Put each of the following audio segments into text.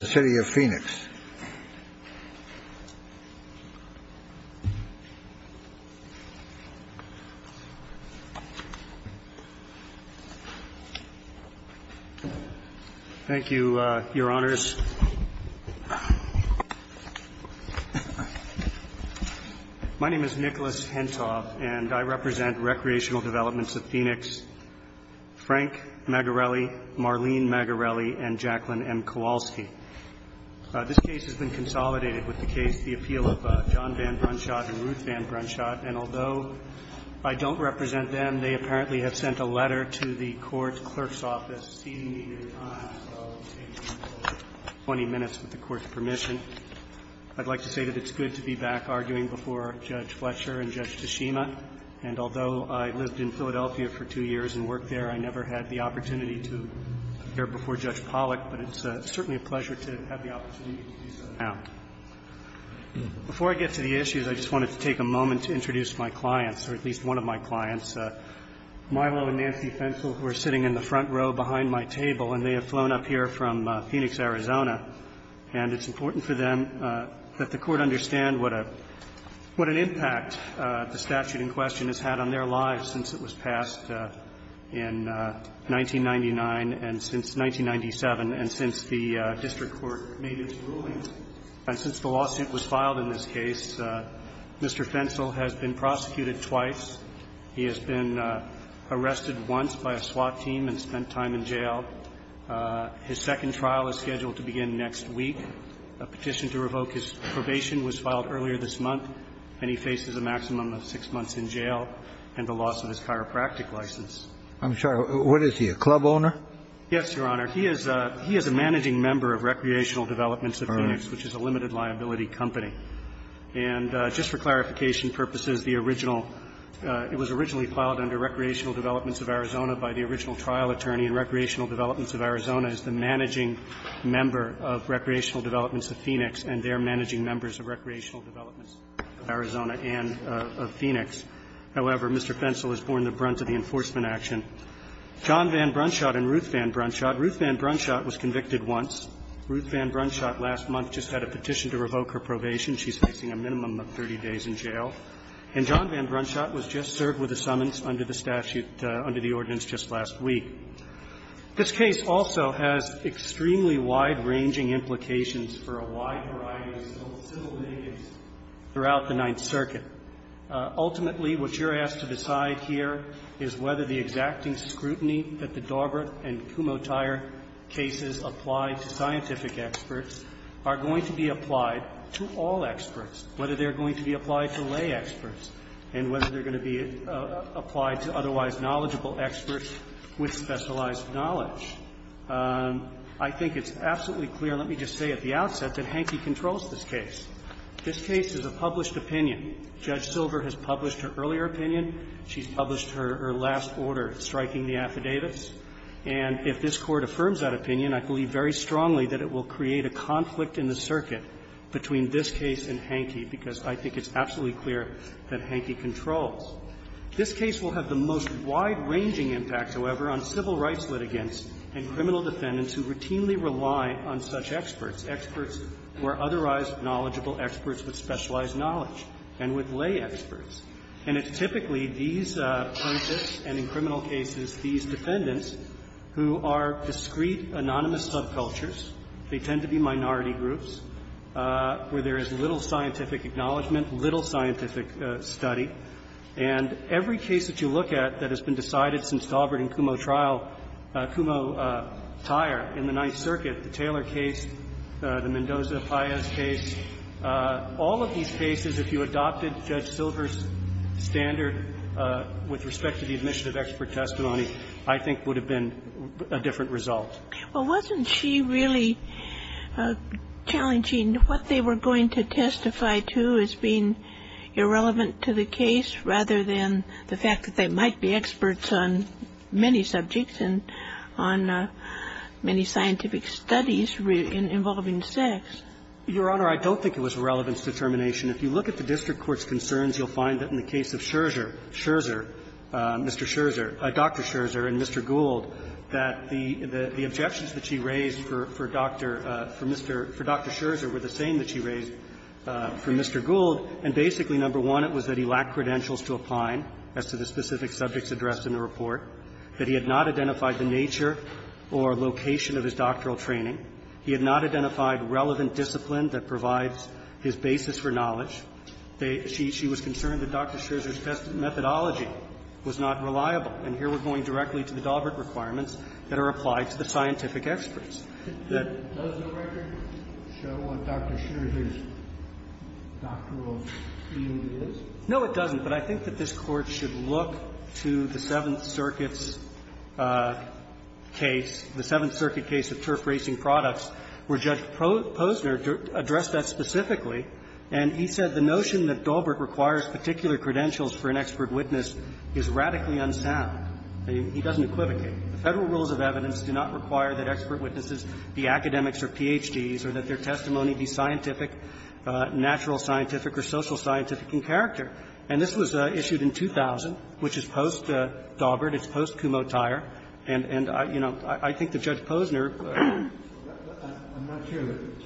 Thank you, Your Honors. My name is Nicholas Hentoff, and I represent Recreational This case has been consolidated with the case, the appeal of John Van Brunschot and Ruth Van Brunschot. And although I don't represent them, they apparently have sent a letter to the court's clerk's office, ceding me their time, so I'll take 20 minutes with the Court's permission. I'd like to say that it's good to be back arguing before Judge Fletcher and Judge Toshima. And although I lived in Philadelphia for two years and worked there, I never had the pleasure to have the opportunity to do so now. Before I get to the issues, I just wanted to take a moment to introduce my clients, or at least one of my clients, Milo and Nancy Fentzel, who are sitting in the front row behind my table, and they have flown up here from Phoenix, Arizona, and it's important for them that the Court understand what an impact the statute in question has had on their lives since it was passed in 1999 and since 1997, and since the district court made its rulings. And since the lawsuit was filed in this case, Mr. Fentzel has been prosecuted twice. He has been arrested once by a SWAT team and spent time in jail. His second trial is scheduled to begin next week. A petition to revoke his probation was filed earlier this month, and he faces a maximum of six months in jail and the loss of his chiropractic license. I'm sorry, what is he, a club owner? Yes, Your Honor. He is a managing member of Recreational Developments of Phoenix, which is a limited liability company. And just for clarification purposes, the original – it was originally filed under Recreational Developments of Arizona by the original trial attorney, and Recreational Developments of Arizona is the managing member of Recreational Developments of Phoenix and they are managing members of Recreational Developments of Arizona and of Phoenix. However, Mr. Fentzel is born the brunt of the enforcement action. John Van Brunschot and Ruth Van Brunschot. Ruth Van Brunschot was convicted once. Ruth Van Brunschot last month just had a petition to revoke her probation. She's facing a minimum of 30 days in jail. And John Van Brunschot was just served with a summons under the statute, under the ordinance just last week. This case also has extremely wide-ranging implications for a wide variety of civil nations throughout the Ninth Circuit. Ultimately, what you're asked to decide here is whether the exacting scrutiny that the Dorbert and Kumotair cases apply to scientific experts are going to be applied to all experts, whether they're going to be applied to lay experts, and whether they're going to be applied to otherwise knowledgeable experts with specialized knowledge. I think it's absolutely clear, let me just say at the outset, that Hanke controls this case. This case is a published opinion. Judge Silver has published her earlier opinion. She's published her last order striking the affidavits. And if this Court affirms that opinion, I believe very strongly that it will create a conflict in the circuit between this case and Hanke, because I think it's absolutely clear that Hanke controls. This case will have the most wide-ranging impact, however, on civil rights litigants and criminal defendants who routinely rely on such experts, experts who are otherwise knowledgeable, experts with specialized knowledge and with lay experts. And it's typically these plaintiffs and in criminal cases these defendants who are discrete, anonymous subcultures. They tend to be minority groups where there is little scientific acknowledgment, little scientific study. And every case that you look at that has been decided since Dorbert and Kumotair in the Ninth Circuit, the Taylor case, the Mendoza-Payas case, all of these cases, if you adopted Judge Silver's standard with respect to the admission of expert testimony, I think would have been a different result. Well, wasn't she really challenging what they were going to testify to as being irrelevant to the case rather than the fact that they might be experts on many subjects? And on many scientific studies involving sex. Your Honor, I don't think it was a relevance determination. If you look at the district court's concerns, you'll find that in the case of Scherzer Mr. Scherzer, Dr. Scherzer and Mr. Gould, that the objections that she raised for Dr. for Mr. for Dr. Scherzer were the same that she raised for Mr. Gould. And basically, number one, it was that he lacked credentials to apply as to the specific subjects addressed in the report, that he had not identified the nature or location of his doctoral training. He had not identified relevant discipline that provides his basis for knowledge. She was concerned that Dr. Scherzer's methodology was not reliable, and here we're going directly to the Daubert requirements that are applied to the scientific experts. That does the record show what Dr. Scherzer's doctoral field is? No, it doesn't. But I think that this Court should look to the Seventh Circuit's case, the Seventh Circuit case of turf-racing products, where Judge Posner addressed that specifically, and he said the notion that Daubert requires particular credentials for an expert witness is radically unsound. He doesn't equivocate. The Federal rules of evidence do not require that expert witnesses be academics or Ph.D.s or that their testimony be scientific, natural scientific or social scientific in character. And this was issued in 2000, which is post-Daubert. It's post-Cumotire. And, you know, I think that Judge Posner ---- I'm not sure that it's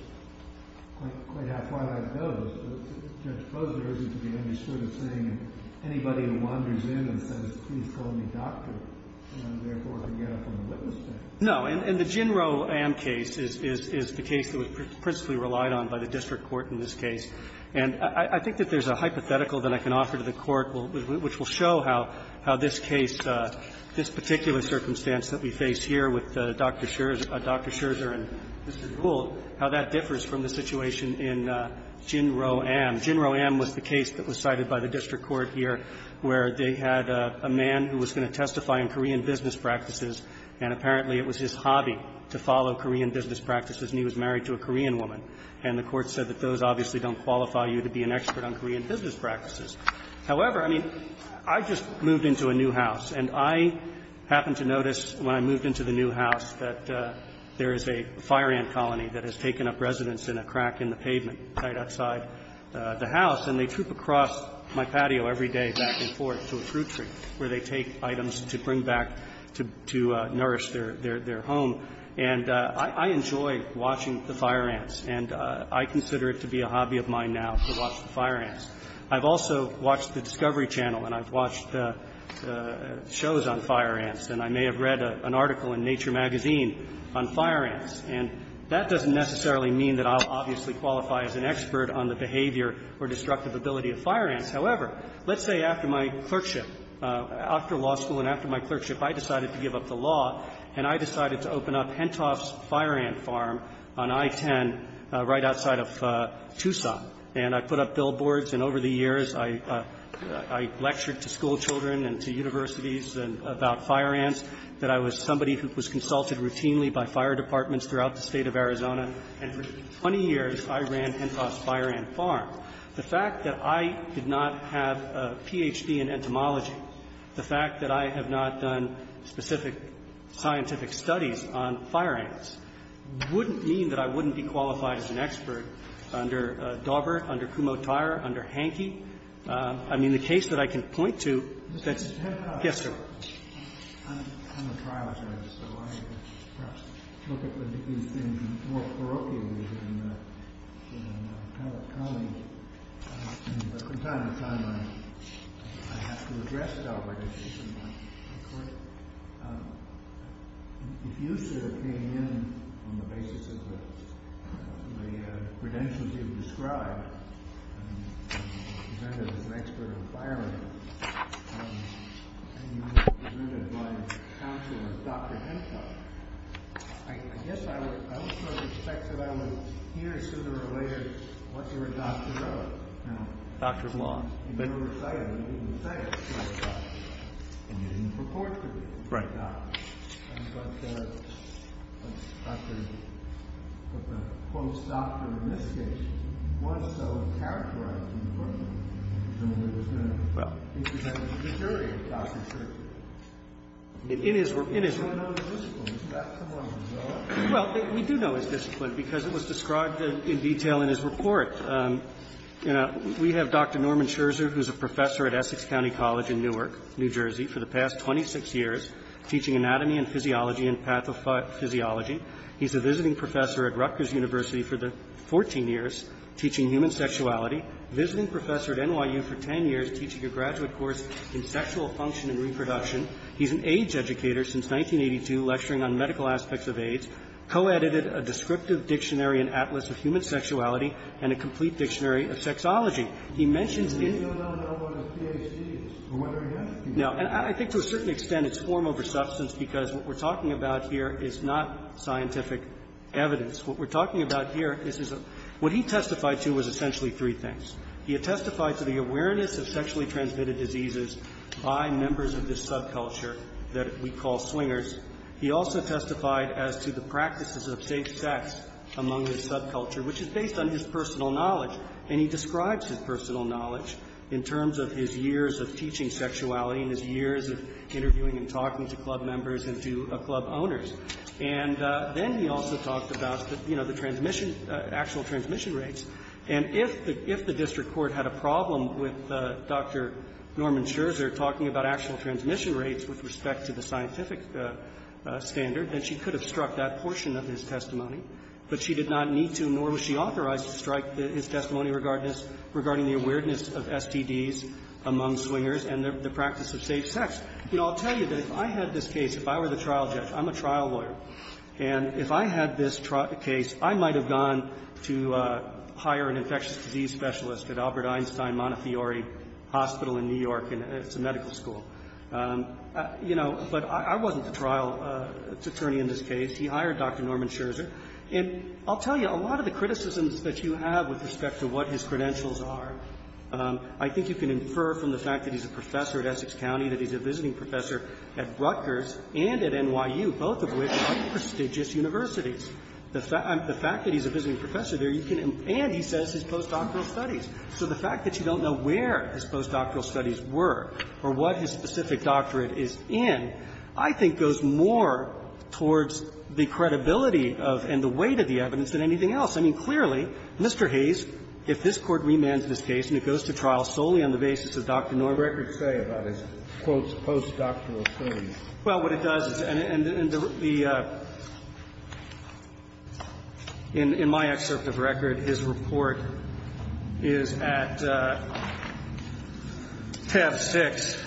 quite half-way like those. Judge Posner isn't to be understood as saying anybody who wanders in and says, please call me doctor, and I'm therefore to get up on the witness stand. No. And the Ginro Amn case is the case that was principally relied on by the district court in this case. And I think that there's a hypothetical that I can offer to the Court, which will show how this case, this particular circumstance that we face here with Dr. Scherzer and Mr. Gould, how that differs from the situation in Ginro Amn. Ginro Amn was the case that was cited by the district court here where they had a man who was going to testify in Korean business practices, and apparently it was his hobby to follow Korean business practices, and he was married to a Korean woman. And the Court said that those obviously don't qualify you to be an expert on Korean business practices. However, I mean, I just moved into a new house, and I happened to notice when I moved into the new house that there is a fire ant colony that has taken up residence in a crack in the pavement right outside the house, and they troop across my patio every day back and forth to a fruit tree where they take items to bring back to nourish their home. And I enjoy watching the fire ants, and I consider it to be a hobby of mine now to watch the fire ants. I've also watched the Discovery Channel, and I've watched shows on fire ants, and I may have read an article in Nature magazine on fire ants. And that doesn't necessarily mean that I'll obviously qualify as an expert on the behavior or destructive ability of fire ants. However, let's say after my clerkship, after law school and after my clerkship, I decided to give up the law, and I decided to open up Hentoff's Fire Ant Farm on I-10 right outside of Tucson. And I put up billboards, and over the years, I lectured to school children and to universities about fire ants, that I was somebody who was consulted routinely by fire departments throughout the State of Arizona, and for 20 years I ran Hentoff's Fire Ant Farm. The fact that I did not have a Ph.D. in entomology, the fact that I have not done specific scientific studies on fire ants wouldn't mean that I wouldn't be qualified as an expert under Daubert, under Kumotaira, under Hankey. I mean, the case that I can point to that's the case. Yes, sir. I'm a trial judge, so I look at these things more parochially than a colleague. But from time to time, I have to address Daubert issues in my court. If you, sir, came in on the basis of the credentials you've described, and you were presented as an expert on fire ants, and you were presented by a counselor, Dr. Hentoff, I guess I would, I would sort of expect that I would hear sooner or later what you were a doctor of. Now, you were a reciter, but you didn't recite it, so I thought, and you didn't purport to be a doctor. But the post-doctorate in this case was so characterized in the book that it was going to be presented to the jury as Dr. Scherzer. In his work, in his work. We don't know his discipline. Is that somewhat of a result? Well, we do know his discipline, because it was described in detail in his report. You know, we have Dr. Norman Scherzer, who's a professor at Essex County College in Newark, New Jersey, for the past 26 years, teaching anatomy and physiology and pathophysiology. He's a visiting professor at Rutgers University for the 14 years, teaching human sexuality, visiting professor at NYU for 10 years, teaching a graduate course in sexual function and reproduction. He's an AIDS educator since 1982, lecturing on medical aspects of AIDS, co-edited a descriptive dictionary and atlas of human sexuality, and a complete dictionary of sexology. He mentions in his report. But we don't know what his Ph.D. is, or whether he has a Ph.D. No. And I think to a certain extent it's form over substance, because what we're talking about here is not scientific evidence. What we're talking about here, this is a – what he testified to was essentially three things. He testified to the awareness of sexually transmitted diseases by members of this subculture that we call swingers. He also testified as to the practices of safe sex among this subculture, which is based on his personal knowledge. And he describes his personal knowledge in terms of his years of teaching sexuality and his years of interviewing and talking to club members and to club owners. And then he also talked about the, you know, the transmission – actual transmission rates. And if the – if the district court had a problem with Dr. Norman Scherzer talking about actual transmission rates with respect to the scientific standard, then she could have struck that portion of his testimony. But she did not need to, nor was she authorized to strike his testimony regarding the awareness of STDs among swingers and the practice of safe sex. You know, I'll tell you that if I had this case, if I were the trial judge, I'm a trial lawyer, and if I had this trial case, I might have gone to hire an infectious disease specialist at Albert Einstein Montefiore Hospital in New York, and it's a medical school. You know, but I wasn't the trial attorney in this case. He hired Dr. Norman Scherzer. And I'll tell you, a lot of the criticisms that you have with respect to what his credentials are, I think you can infer from the fact that he's a professor at Essex County, that he's a visiting professor at Rutgers and at NYU, both of which are prestigious universities. The fact that he's a visiting professor there, you can – and he says his postdoctoral studies. So the fact that you don't know where his postdoctoral studies were or what his specific I mean, clearly, Mr. Hayes, if this Court remands this case and it goes to trial solely on the basis of Dr. Norman's records say about his, quote, postdoctoral studies. Well, what it does is – and the – in my excerpt of record, his report is at TAV-6,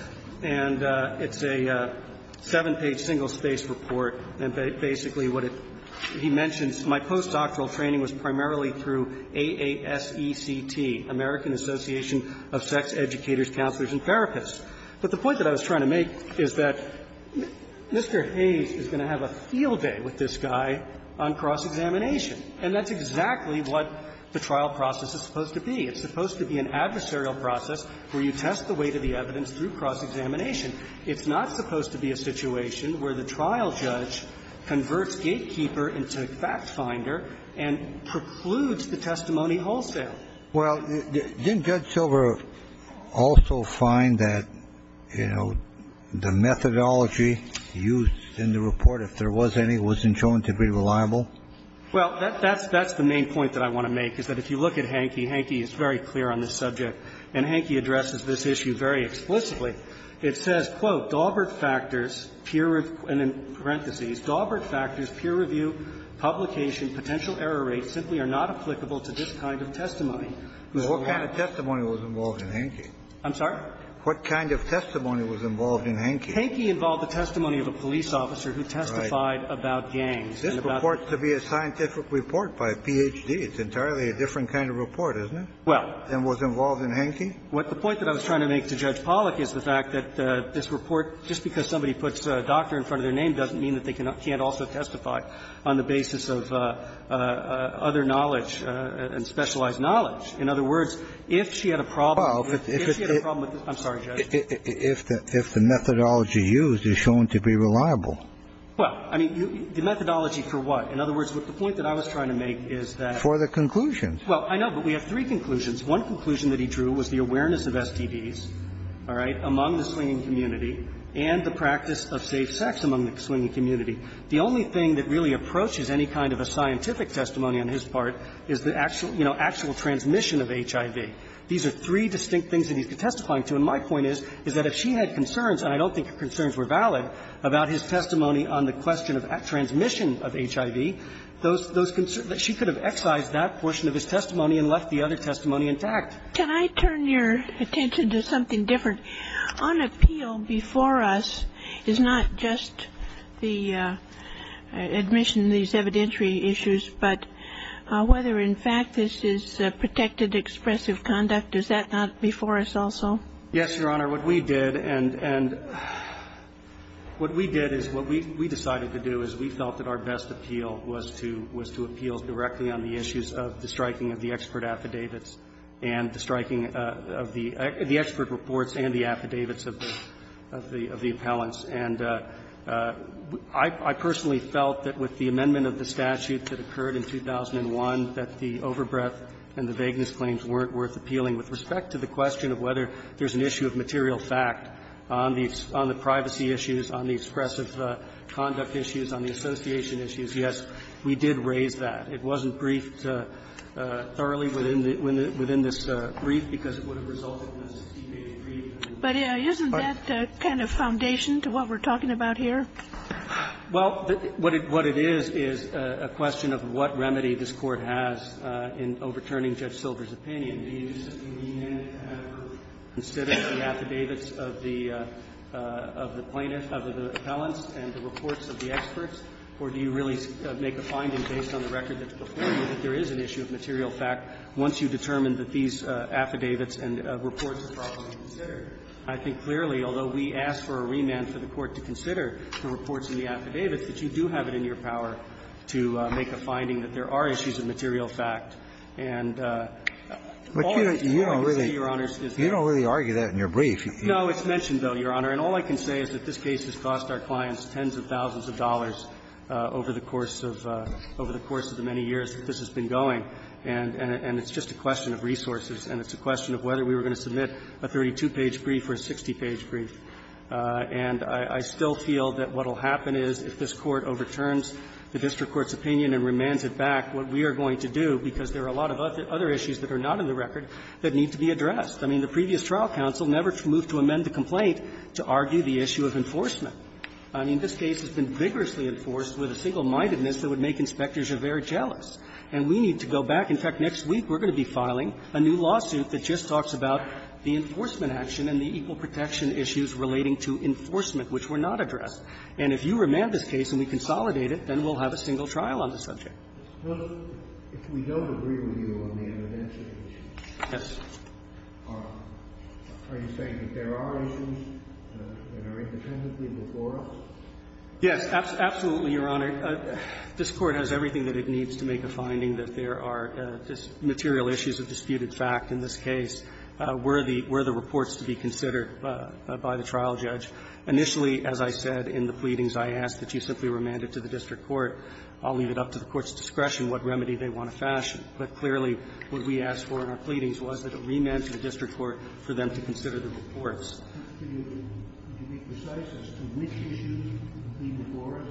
and it's a seven-page single-space report. And basically, what it – he mentions my postdoctoral training was primarily through AASECT, American Association of Sex Educators, Counselors, and Therapists. But the point that I was trying to make is that Mr. Hayes is going to have a field day with this guy on cross-examination, and that's exactly what the trial process is supposed to be. It's supposed to be an adversarial process where you test the weight of the evidence through cross-examination. It's not supposed to be a situation where the trial judge converts Gatekeeper into FactFinder and precludes the testimony wholesale. Well, didn't Judge Silver also find that, you know, the methodology used in the report, if there was any, wasn't shown to be reliable? Well, that's the main point that I want to make, is that if you look at Hanke, Hanke is very clear on this subject, and Hanke addresses this issue very explicitly. It says, quote, "...Daubert factors, peer review, publication, potential error rates simply are not applicable to this kind of testimony." What kind of testimony was involved in Hanke? I'm sorry? What kind of testimony was involved in Hanke? Hanke involved the testimony of a police officer who testified about gangs. This reports to be a scientific report by a Ph.D. It's entirely a different kind of report, isn't it? Well. And was involved in Hanke? What the point that I was trying to make to Judge Pollack is the fact that this report, just because somebody puts a doctor in front of their name doesn't mean that they can't also testify on the basis of other knowledge and specialized knowledge. In other words, if she had a problem with this, I'm sorry, Judge. If the methodology used is shown to be reliable. Well, I mean, the methodology for what? In other words, the point that I was trying to make is that. For the conclusions. Well, I know, but we have three conclusions. One conclusion that he drew was the awareness of STDs, all right, among the slinging community and the practice of safe sex among the slinging community. The only thing that really approaches any kind of a scientific testimony on his part is the actual, you know, actual transmission of HIV. These are three distinct things that he's testifying to. And my point is, is that if she had concerns, and I don't think her concerns were valid, about his testimony on the question of transmission of HIV, those concerns that she could have excised that portion of his testimony and left the other testimony intact. Can I turn your attention to something different? On appeal before us is not just the admission of these evidentiary issues, but whether, in fact, this is protected expressive conduct, is that not before us also? Yes, Your Honor. What we did and what we did is what we decided to do is we felt that our best appeal was to appeal directly on the issues of the striking of the expert affidavits and the striking of the expert reports and the affidavits of the appellants. And I personally felt that with the amendment of the statute that occurred in 2001 that the overbreath and the vagueness claims weren't worth appealing with respect to the question of whether there's an issue of material fact on the privacy issues, on the expressive conduct issues, on the association issues. Yes, we did raise that. It wasn't briefed thoroughly within this brief because it would have resulted in a 60-page brief. But isn't that kind of foundation to what we're talking about here? Well, what it is is a question of what remedy this Court has in overturning Judge Silver's opinion. Do you simply mean to have her consider the affidavits of the plaintiff, of the appellants and the reports of the experts, or do you really make a finding based on the record that's before you that there is an issue of material fact once you determine that these affidavits and reports are properly considered? I think clearly, although we ask for a remand for the Court to consider the reports in the affidavits, that you do have it in your power to make a finding that there are issues of material fact. And all that you see, Your Honors, is that. You don't really argue that in your brief. No, it's mentioned, though, Your Honor. And all I can say is that this case has cost our clients tens of thousands of dollars over the course of the many years that this has been going. And it's just a question of resources, and it's a question of whether we were going to submit a 32-page brief or a 60-page brief. And I still feel that what will happen is if this Court overturns the district court's opinion and remands it back, what we are going to do, because there are a lot of other issues that are not in the record, that need to be addressed. I mean, the previous trial counsel never moved to amend the complaint to argue the issue of enforcement. I mean, this case has been vigorously enforced with a single-mindedness that would make inspectors very jealous. And we need to go back. In fact, next week we're going to be filing a new lawsuit that just talks about the enforcement action and the equal protection issues relating to enforcement, which were not addressed. And if you remand this case and we consolidate it, then we'll have a single trial on the subject. Kennedy. If we don't agree with you on the evidentiary issues, are you saying that there are issues that are independently before us? Yes, absolutely, Your Honor. This Court has everything that it needs to make a finding that there are material issues of disputed fact in this case were the reports to be considered by the trial judge. Initially, as I said in the pleadings, I asked that you simply remand it to the district court. I'll leave it up to the court's discretion what remedy they want to fashion. But clearly, what we asked for in our pleadings was that it remand to the district court for them to consider the reports. Can you be precise as to which issues are before us?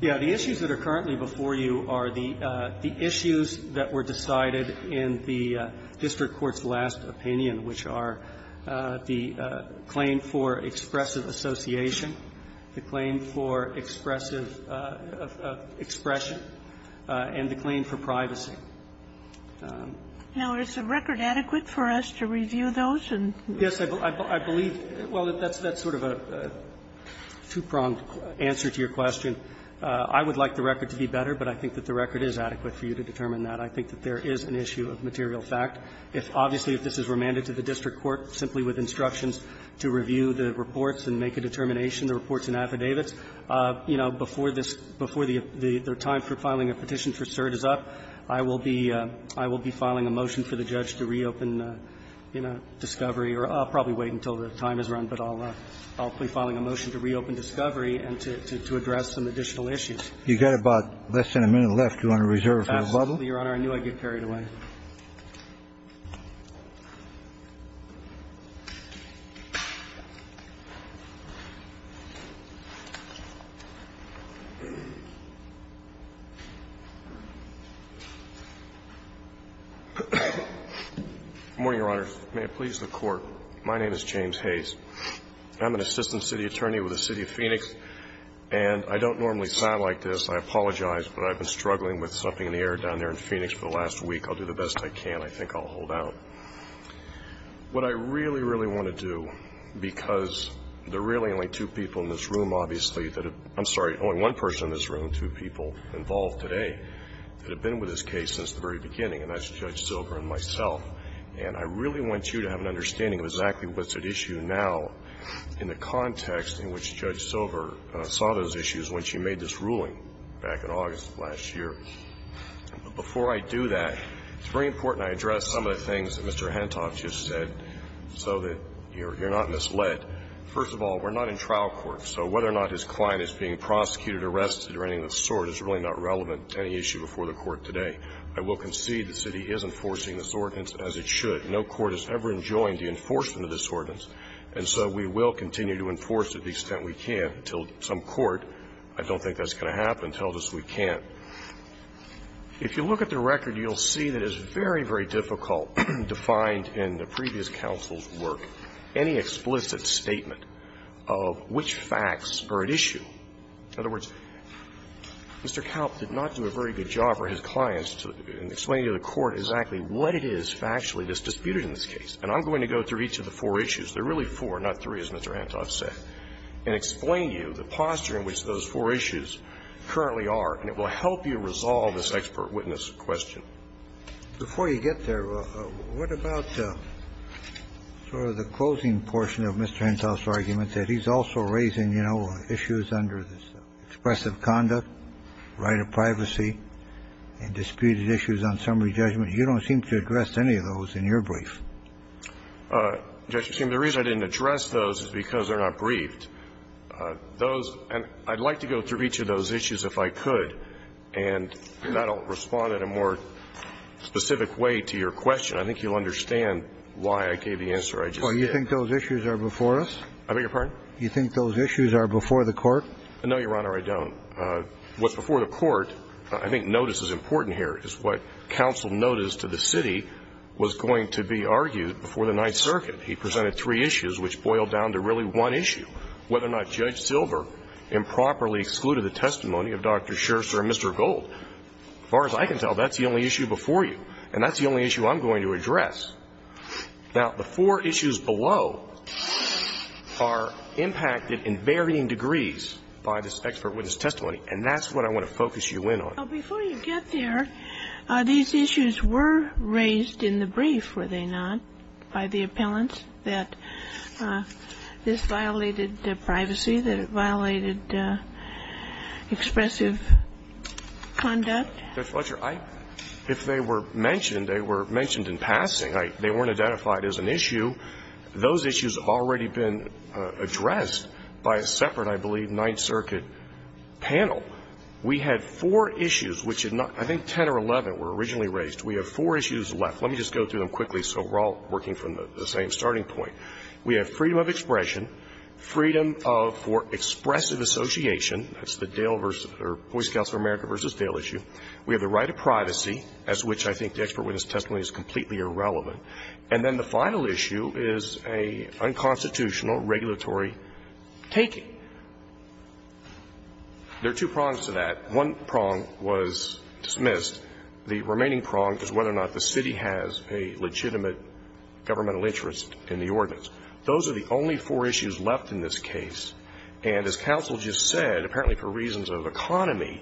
Yes. The issues that are currently before you are the issues that were decided in the district court's last opinion, which are the claim for expressive association, the claim for expressive expression, and the claim for privacy. Now, is the record adequate for us to review those and do that? Yes, I believe that's sort of a two-pronged answer to your question. I would like the record to be better, but I think that the record is adequate for you to determine that. I think that there is an issue of material fact. Obviously, if this is remanded to the district court simply with instructions to review the reports and make a determination, the reports and affidavits, you know, before this – before the time for filing a petition for cert is up, I will be – I will be filing a motion for the judge to reopen, you know, discovery or I'll probably wait until the time is run, but I'll – I'll be filing a motion to reopen discovery and to address some additional issues. You've got about less than a minute left. Do you want to reserve for the bubble? Absolutely, Your Honor. I knew I'd get carried away. Good morning, Your Honor. May it please the Court. My name is James Hayes. I'm an assistant city attorney with the City of Phoenix, and I don't normally sound like this. I apologize, but I've been struggling with something in the air down there in Phoenix for the last week. I think I'll do the best I can. I think I'll hold out. What I really, really want to do, because there are really only two people in this room, obviously – I'm sorry, only one person in this room, two people involved today that have been with this case since the very beginning, and that's Judge Silver and myself. And I really want you to have an understanding of exactly what's at issue now in the context in which Judge Silver saw those issues when she made this ruling back in August of last year. Before I do that, it's very important I address some of the things that Mr. Hentoff just said so that you're not misled. First of all, we're not in trial court, so whether or not his client is being prosecuted or arrested or anything of the sort is really not relevant to any issue before the Court today. I will concede the city is enforcing this ordinance as it should. No court has ever enjoined the enforcement of this ordinance, and so we will continue to enforce it to the extent we can until some court, I don't think that's going to happen, tells us we can't. If you look at the record, you'll see that it's very, very difficult to find in the previous counsel's work any explicit statement of which facts are at issue. In other words, Mr. Kalp did not do a very good job for his clients in explaining to the Court exactly what it is factually that's disputed in this case. And I'm going to go through each of the four issues, there are really four, not three as Mr. Hentoff said, and explain to you the posture in which those four issues currently are, and it will help you resolve this expert witness question. Before you get there, what about sort of the closing portion of Mr. Hentoff's argument that he's also raising, you know, issues under this expressive conduct, right of privacy, and disputed issues on summary judgment? You don't seem to address any of those in your brief. Justice Kagan, the reason I didn't address those is because they're not briefed. Those – and I'd like to go through each of those issues if I could, and that'll respond in a more specific way to your question. I think you'll understand why I gave the answer I just gave. Well, you think those issues are before us? I beg your pardon? You think those issues are before the Court? No, Your Honor, I don't. What's before the Court, I think notice is important here, is what counsel noticed to the city was going to be argued before the Ninth Circuit. He presented three issues, which boiled down to really one issue, whether or not Judge Silver improperly excluded the testimony of Dr. Scherzer and Mr. Gold. As far as I can tell, that's the only issue before you, and that's the only issue I'm going to address. Now, the four issues below are impacted in varying degrees by this expert witness testimony, and that's what I want to focus you in on. Well, before you get there, these issues were raised in the brief, were they not, by the appellants, that this violated privacy, that it violated expressive conduct? Judge Fletcher, if they were mentioned, they were mentioned in passing. They weren't identified as an issue. Those issues have already been addressed by a separate, I believe, Ninth Circuit panel. We had four issues, which I think 10 or 11 were originally raised. We have four issues left. Let me just go through them quickly so we're all working from the same starting point. We have freedom of expression, freedom for expressive association. That's the Boy Scouts of America v. Dale issue. We have the right of privacy, as which I think the expert witness testimony is completely irrelevant. And then the final issue is an unconstitutional regulatory taking. There are two prongs to that. One prong was dismissed. The remaining prong is whether or not the city has a legitimate governmental interest in the ordinance. Those are the only four issues left in this case. And as counsel just said, apparently for reasons of economy,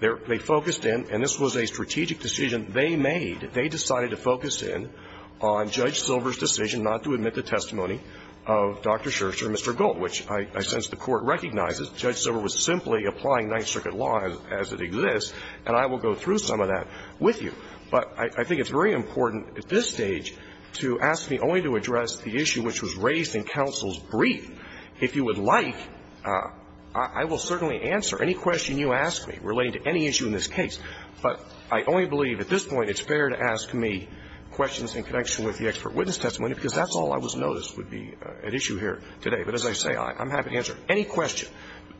they focused in, and this was a strategic decision they made, they decided to focus in on Judge Silver's The court recognizes Judge Silver was simply applying Ninth Circuit law as it exists, and I will go through some of that with you. But I think it's very important at this stage to ask me only to address the issue which was raised in counsel's brief. If you would like, I will certainly answer any question you ask me relating to any issue in this case. But I only believe at this point it's fair to ask me questions in connection with the expert witness testimony, because that's all I was noticed would be at issue here today. But as I say, I'm happy to answer any question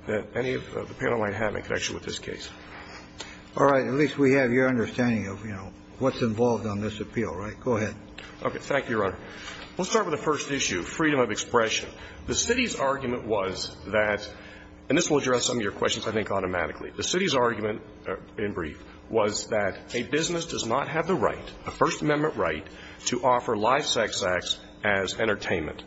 that any of the panel might have in connection with this case. All right. At least we have your understanding of, you know, what's involved on this appeal, right? Go ahead. Okay. Thank you, Your Honor. Let's start with the first issue, freedom of expression. The city's argument was that, and this will address some of your questions, I think, automatically. The city's argument in brief was that a business does not have the right, a First Amendment right, to offer live sex acts as entertainment.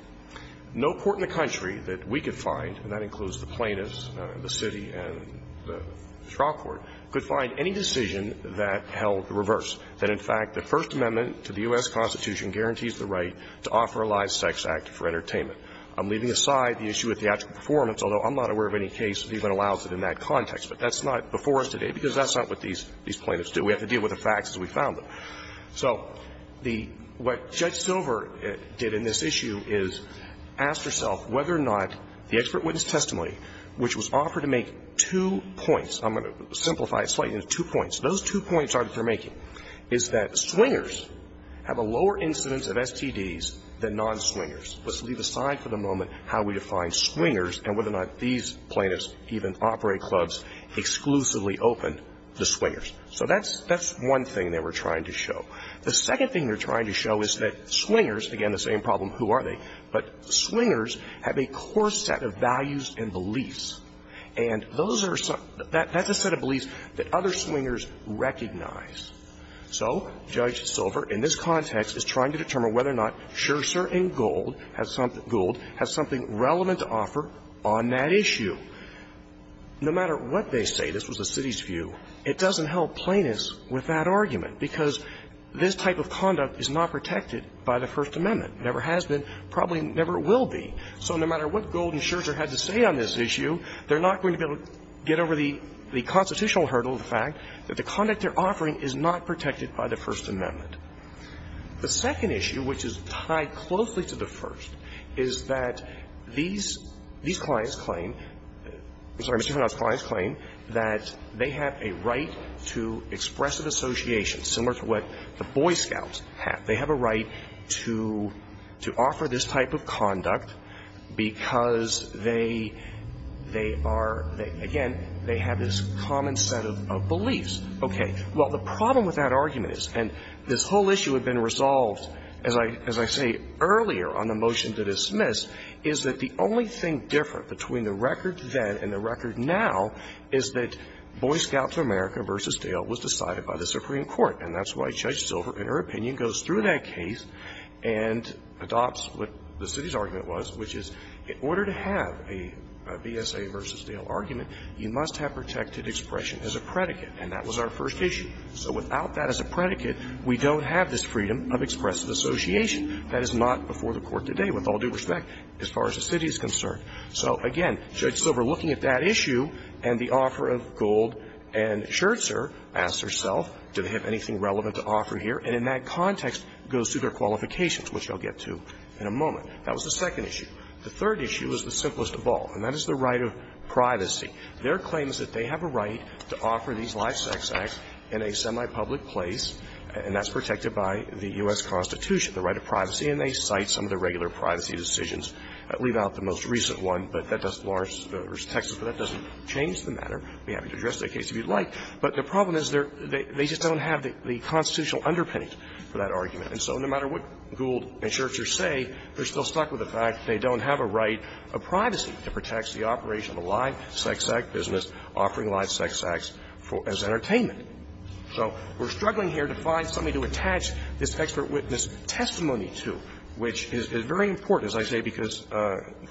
No court in the country that we could find, and that includes the plaintiffs, the city and the trial court, could find any decision that held the reverse, that in fact the First Amendment to the U.S. Constitution guarantees the right to offer a live sex act for entertainment. I'm leaving aside the issue of theatrical performance, although I'm not aware of any case that even allows it in that context. But that's not before us today, because that's not what these plaintiffs do. We have to deal with the facts as we found them. So the what Judge Silver did in this issue is asked herself whether or not the expert witness testimony, which was offered to make two points, I'm going to simplify it slightly, two points. Those two points are that they're making, is that swingers have a lower incidence of STDs than non-swingers. Let's leave aside for the moment how we define swingers and whether or not these plaintiffs, even operate clubs, exclusively open to swingers. So that's one thing they were trying to show. The second thing they're trying to show is that swingers, again, the same problem, who are they? But swingers have a core set of values and beliefs. And those are some, that's a set of beliefs that other swingers recognize. So Judge Silver, in this context, is trying to determine whether or not Scherzer and Gould has something relevant to offer on that issue. No matter what they say, this was the city's view, it doesn't help plaintiffs with that argument, because this type of conduct is not protected by the First Amendment, never has been, probably never will be. So no matter what Gould and Scherzer had to say on this issue, they're not going to be able to get over the constitutional hurdle of the fact that the conduct they're offering is not protected by the First Amendment. The second issue, which is tied closely to the first, is that these clients claim, sorry, Mr. Hanna's clients claim that they have a right to expressive association, similar to what the Boy Scouts have. They have a right to offer this type of conduct, because they are, again, they have this common set of beliefs. Okay. So the whole issue had been resolved, as I say earlier on the motion to dismiss, is that the only thing different between the record then and the record now is that Boy Scouts of America v. Dale was decided by the Supreme Court, and that's why Judge Silver, in her opinion, goes through that case and adopts what the city's argument was, which is in order to have a BSA v. Dale argument, you must have protected expression as a predicate, and that was our first issue. So without that as a predicate, we don't have this freedom of expressive association. That is not before the Court today, with all due respect, as far as the city is concerned. So, again, Judge Silver, looking at that issue and the offer of Gould and Scherzer, asks herself, do they have anything relevant to offer here, and in that context goes through their qualifications, which I'll get to in a moment. That was the second issue. The third issue is the simplest of all, and that is the right of privacy. Their claim is that they have a right to offer these live sex acts in a semi-public place, and that's protected by the U.S. Constitution, the right of privacy. And they cite some of the regular privacy decisions. I'll leave out the most recent one, but that does Florence v. Texas, but that doesn't change the matter. I'd be happy to address that case if you'd like. But the problem is they just don't have the constitutional underpinning for that argument. And so no matter what Gould and Scherzer say, they're still stuck with the fact that they don't have a right of privacy that protects the operation of a live sex act business offering live sex acts as entertainment. So we're struggling here to find something to attach this expert witness testimony to, which is very important, as I say, because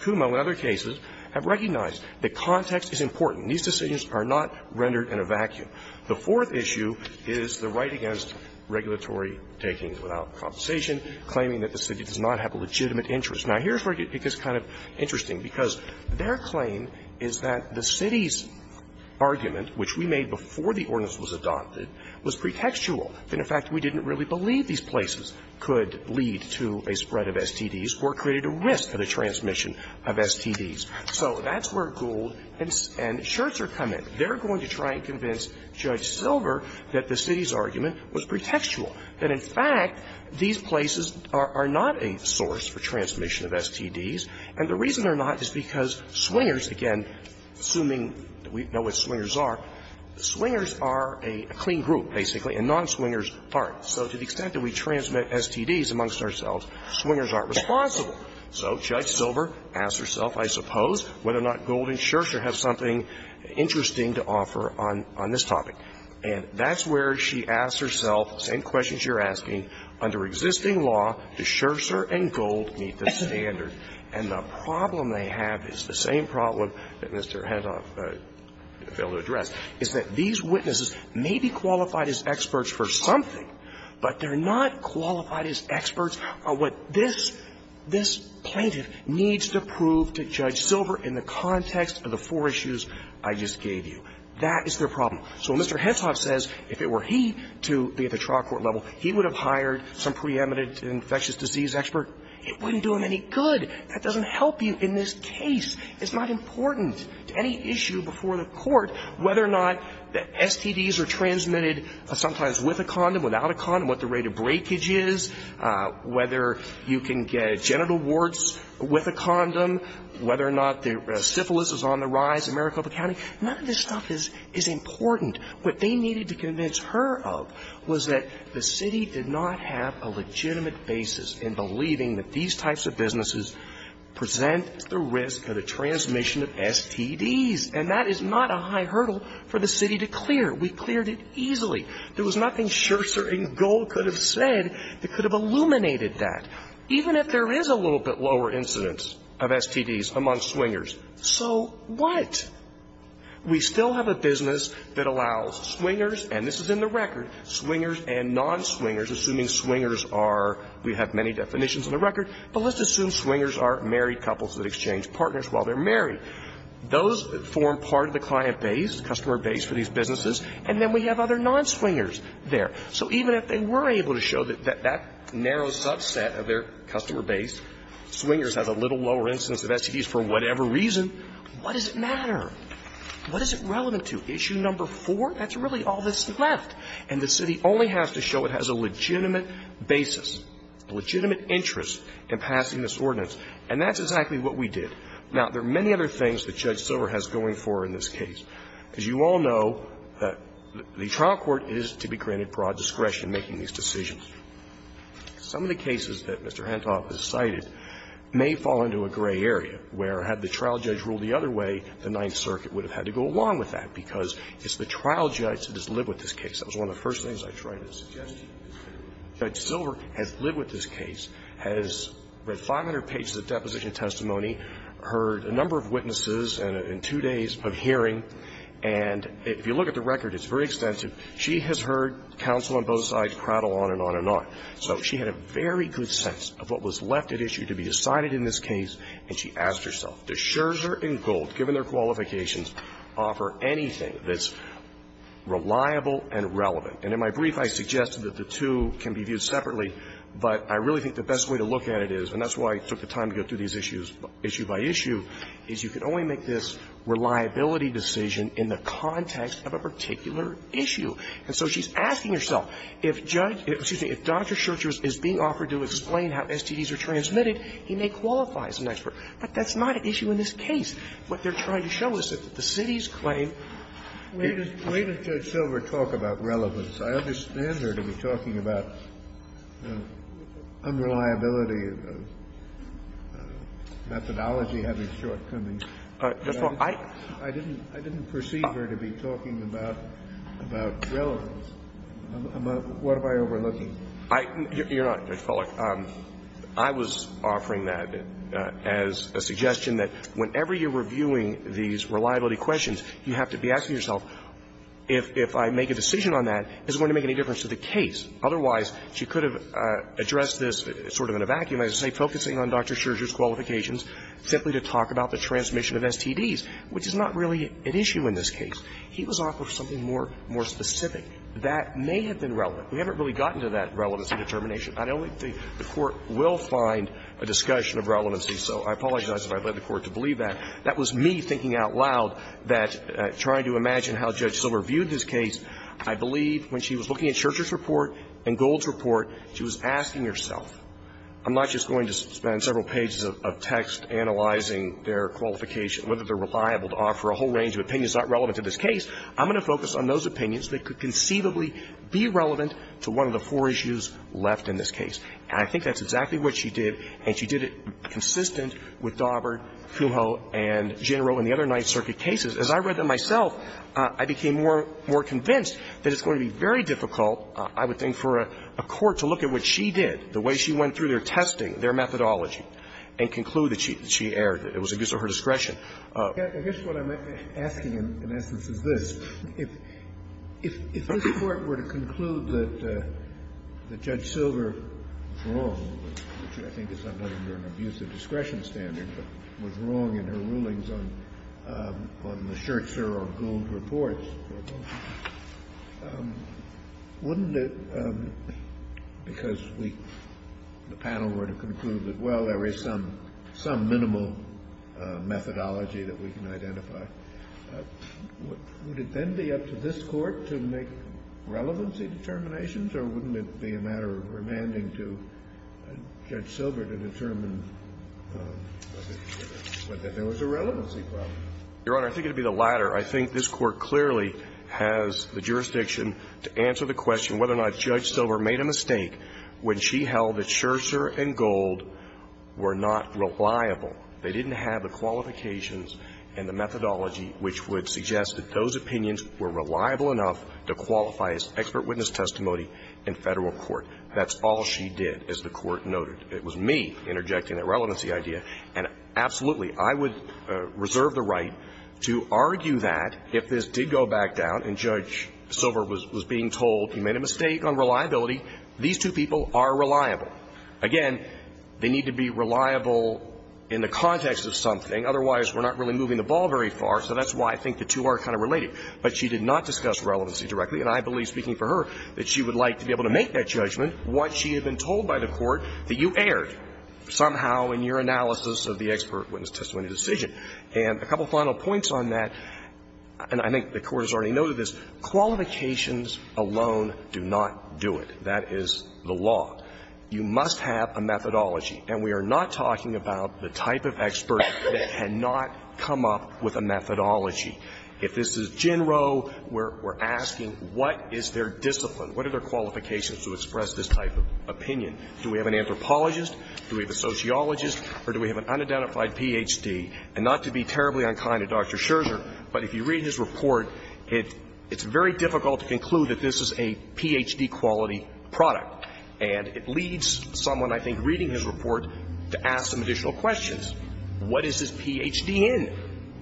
Kumo and other cases have recognized that context is important. These decisions are not rendered in a vacuum. The fourth issue is the right against regulatory takings without compensation, claiming that the city does not have a legitimate interest. Now, here's where it gets kind of interesting, because their claim is that the city's argument, which we made before the ordinance was adopted, was pretextual, that in fact we didn't really believe these places could lead to a spread of STDs or created a risk for the transmission of STDs. So that's where Gould and Scherzer come in. They're going to try and convince Judge Silver that the city's argument was pretextual, that in fact these places are not a source for transmission of STDs, and the reason they're not is because swingers, again, assuming that we know what swingers are, swingers are a clean group, basically, and non-swingers aren't. So to the extent that we transmit STDs amongst ourselves, swingers aren't responsible. So Judge Silver asked herself, I suppose, whether or not Gould and Scherzer have something interesting to offer on this topic. And that's where she asked herself the same questions you're asking, under existing law, do Scherzer and Gould meet the standard? And the problem they have is the same problem that Mr. Heddoff failed to address, is that these witnesses may be qualified as experts for something, but they're not qualified as experts on what this plaintiff needs to prove to Judge Silver in the context of the four issues I just gave you. That is their problem. So when Mr. Heddoff says, if it were he to be at the trial court level, he would have hired some preeminent infectious disease expert, it wouldn't do him any good. That doesn't help you in this case. It's not important to any issue before the court whether or not the STDs are transmitted sometimes with a condom, without a condom, what the rate of breakage is, whether you can get genital warts with a condom, whether or not the syphilis is on the rise in Maricopa County, none of this stuff is important. What they needed to convince her of was that the city did not have a legitimate basis in believing that these types of businesses present the risk of the transmission of STDs, and that is not a high hurdle for the city to clear. We cleared it easily. There was nothing Scherzer and Gould could have said that could have illuminated that, even if there is a little bit lower incidence of STDs among swingers. So what? We still have a business that allows swingers, and this is in the record, swingers and non-swingers, assuming swingers are, we have many definitions in the record, but let's assume swingers are married couples that exchange partners while they're married. Those form part of the client base, customer base for these businesses, and then we have other non-swingers there. So even if they were able to show that that narrow subset of their customer base, swingers have a little lower incidence of STDs for whatever reason, what does it matter? What is it relevant to? Issue number four? That's really all that's left, and the city only has to show it has a legitimate basis, a legitimate interest in passing this ordinance. And that's exactly what we did. Now, there are many other things that Judge Silver has going for in this case. As you all know, the trial court is to be granted broad discretion making these decisions. Some of the cases that Mr. Hentoff has cited may fall into a gray area, where had the trial judge ruled the other way, the Ninth Circuit would have had to go along with that, because it's the trial judge that has lived with this case. That was one of the first things I tried to suggest. Judge Silver has lived with this case, has read 500 pages of deposition testimony, heard a number of witnesses in two days of hearing, and if you look at the record, it's very extensive. She has heard counsel on both sides craddle on and on and on. So she had a very good sense of what was left at issue to be decided in this case, and she asked herself, does Scherzer and Gould, given their qualifications, offer anything that's reliable and relevant? And in my brief, I suggested that the two can be viewed separately, but I really think the best way to look at it is, and that's why I took the time to go through these issues issue by issue, is you can only make this reliability decision in the And that's a particular issue. And so she's asking herself, if Judge – excuse me, if Dr. Scherzer is being offered to explain how STDs are transmitted, he may qualify as an expert. But that's not an issue in this case. What they're trying to show is that the city's claim – Kennedy. The way that Judge Silver talked about relevance, I understand her to be talking about unreliability of methodology having shortcomings, but I didn't perceive her to be talking about relevance. What am I overlooking? You're not, Judge Feller. I was offering that as a suggestion that whenever you're reviewing these reliability questions, you have to be asking yourself, if I make a decision on that, is it going to make any difference to the case? Otherwise, she could have addressed this sort of in a vacuum, as I say, focusing on Dr. Scherzer's qualifications simply to talk about the transmission of STDs, which is not really an issue in this case. He was offering something more specific that may have been relevant. We haven't really gotten to that relevance determination. I don't think the Court will find a discussion of relevancy, so I apologize if I led the Court to believe that. That was me thinking out loud that – trying to imagine how Judge Silver viewed this case. I believe when she was looking at Scherzer's report and Gold's report, she was asking herself. I'm not just going to spend several pages of text analyzing their qualification, whether they're reliable to offer a whole range of opinions that are not relevant to this case. I'm going to focus on those opinions that could conceivably be relevant to one of the four issues left in this case. And I think that's exactly what she did, and she did it consistent with Daubert, Cujo, and Gennaro and the other Ninth Circuit cases. As I read them myself, I became more convinced that it's going to be very difficult, I would think, for a court to look at what she did, the way she went through their testing, their methodology, and conclude that she erred. It was abuse of her discretion. Kennedy. I guess what I'm asking, in essence, is this. If this Court were to conclude that Judge Silver was wrong, which I think is under an abuse of discretion standard, but was wrong in her rulings on the Scherzer or Gould reports, wouldn't it, because the panel were to conclude that, well, there is some minimal methodology that we can identify, would it then be up to this Court to make relevancy determinations? Or wouldn't it be a matter of remanding to Judge Silver to determine whether there was a relevancy problem? Your Honor, I think it would be the latter. I think this Court clearly has the jurisdiction to answer the question whether or not Judge Silver made a mistake when she held that Scherzer and Gould were not reliable. They didn't have the qualifications and the methodology which would suggest that those opinions were reliable enough to qualify as expert witness testimony in Federal Court. That's all she did, as the Court noted. It was me interjecting that relevancy idea. And absolutely, I would reserve the right to argue that if this did go back down and Judge Silver was being told he made a mistake on reliability, these two people are reliable. Again, they need to be reliable in the context of something. Otherwise, we're not really moving the ball very far. So that's why I think the two are kind of related. But she did not discuss relevancy directly. And I believe, speaking for her, that she would like to be able to make that judgment once she had been told by the Court that you erred somehow in your analysis of the expert witness testimony decision. And a couple of final points on that, and I think the Court has already noted this, qualifications alone do not do it. That is the law. You must have a methodology. And we are not talking about the type of expert that had not come up with a methodology. If this is Gin Roe, we're asking what is their discipline, what are their qualifications to express this type of opinion? Do we have an anthropologist, do we have a sociologist, or do we have an unidentified Ph.D.? And not to be terribly unkind to Dr. Scherzer, but if you read his report, it's very difficult to conclude that this is a Ph.D.-quality product. And it leads someone, I think, reading his report to ask some additional questions. What is his Ph.D. in?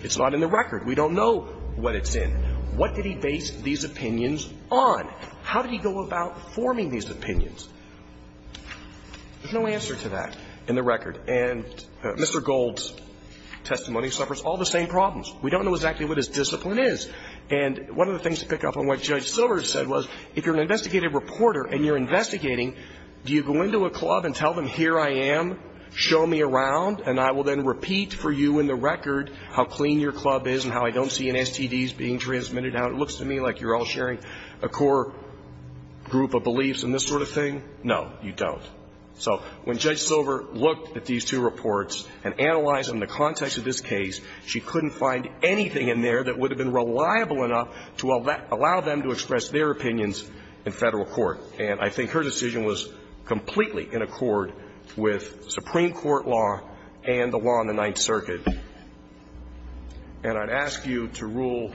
It's not in the record. We don't know what it's in. What did he base these opinions on? How did he go about forming these opinions? There's no answer to that in the record. And Mr. Gold's testimony suffers all the same problems. We don't know exactly what his discipline is. And one of the things to pick up on what Judge Silver said was if you're an investigative reporter and you're investigating, do you go into a club and tell them, here I am, show me around, and I will then repeat for you in the record how clean your club is and how I don't see an STDs being transmitted, how it looks to me like you're all sharing a core group of beliefs in this sort of thing? No, you don't. So when Judge Silver looked at these two reports and analyzed them in the context of this case, she couldn't find anything in there that would have been reliable enough to allow them to express their opinions in Federal court. And I think her decision was completely in accord with Supreme Court law and the law on the Ninth Circuit. And I'd ask you to rule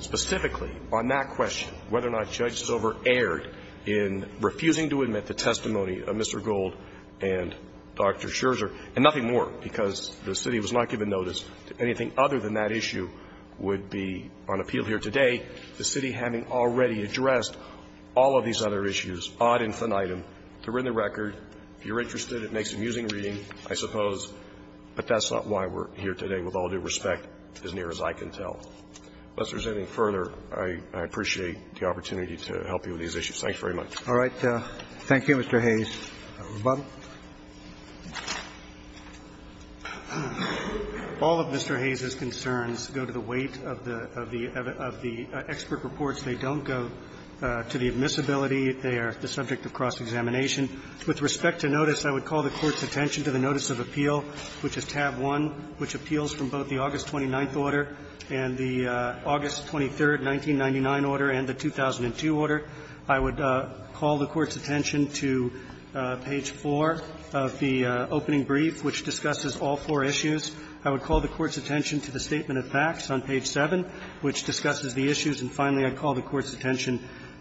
specifically on that question, whether or not Judge Silver erred in refusing to admit the testimony of Mr. Gold and Dr. Scherzer, and nothing more, because the City was not given notice that anything other than that issue would be on appeal here today. The City having already addressed all of these other issues, ad infinitum, they're in the record. If you're interested, it makes amusing reading, I suppose, but that's not why we're here today. With all due respect, as near as I can tell. Unless there's anything further, I appreciate the opportunity to help you with these issues. Thank you very much. All right. Thank you, Mr. Hayes. Robert. All of Mr. Hayes's concerns go to the weight of the expert reports. They don't go to the admissibility. They are the subject of cross-examination. With respect to notice, I would call the Court's attention to the notice of appeal, which is tab 1, which appeals from both the August 29th order and the August 23rd 1999 order and the 2002 order. I would call the Court's attention to page 4 of the opening brief, which discusses all four issues. I would call the Court's attention to the statement of facts on page 7, which discusses the issues. And finally, I'd call the Court's attention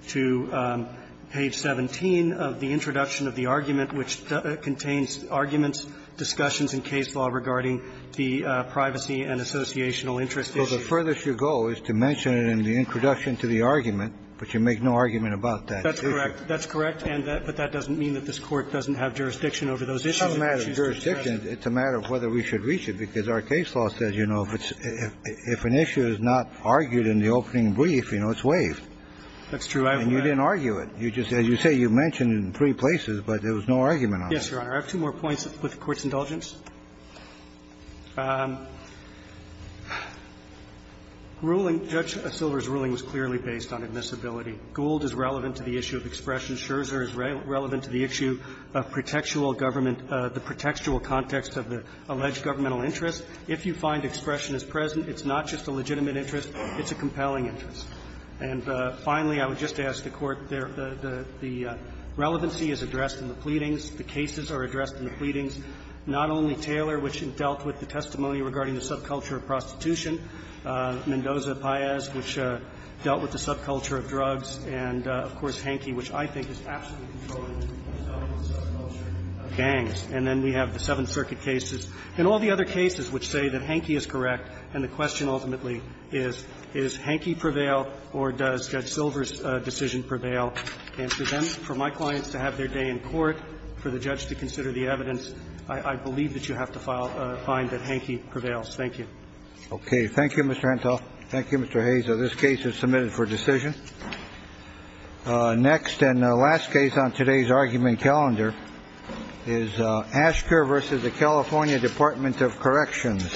to page 17 of the introduction of the argument, which contains arguments, discussions in case law regarding the privacy and associational interest issue. So the furthest you go is to mention it in the introduction to the argument, but you make no argument about that issue. That's correct. But that doesn't mean that this Court doesn't have jurisdiction over those issues. It's not a matter of jurisdiction. It's a matter of whether we should reach it, because our case law says, you know, if an issue is not argued in the opening brief, you know, it's waived. That's true. And you didn't argue it. As you say, you mentioned it in three places, but there was no argument on it. Yes, Your Honor. I have two more points with the Court's indulgence. Ruling, Judge Silver's ruling was clearly based on admissibility. Gould is relevant to the issue of expression. Scherzer is relevant to the issue of pretextual government, the pretextual context of the alleged governmental interest. If you find expression is present, it's not just a legitimate interest. It's a compelling interest. And finally, I would just ask the Court, the relevancy is addressed in the pleadings. The cases are addressed in the pleadings, not only Taylor, which dealt with the testimony regarding the subculture of prostitution, Mendoza-Payez, which dealt with the subculture of drugs, and, of course, Hankey, which I think is absolutely controllable because of the subculture of gangs. And then we have the Seventh Circuit cases and all the other cases which say that the question ultimately is, is Hankey prevail or does Judge Silver's decision prevail? And for them, for my clients to have their day in court, for the judge to consider the evidence, I believe that you have to find that Hankey prevails. Thank you. Okay. Thank you, Mr. Hantel. Thank you, Mr. Hayes. This case is submitted for decision. Next and last case on today's argument calendar is Aschker v. The California Department of Corrections.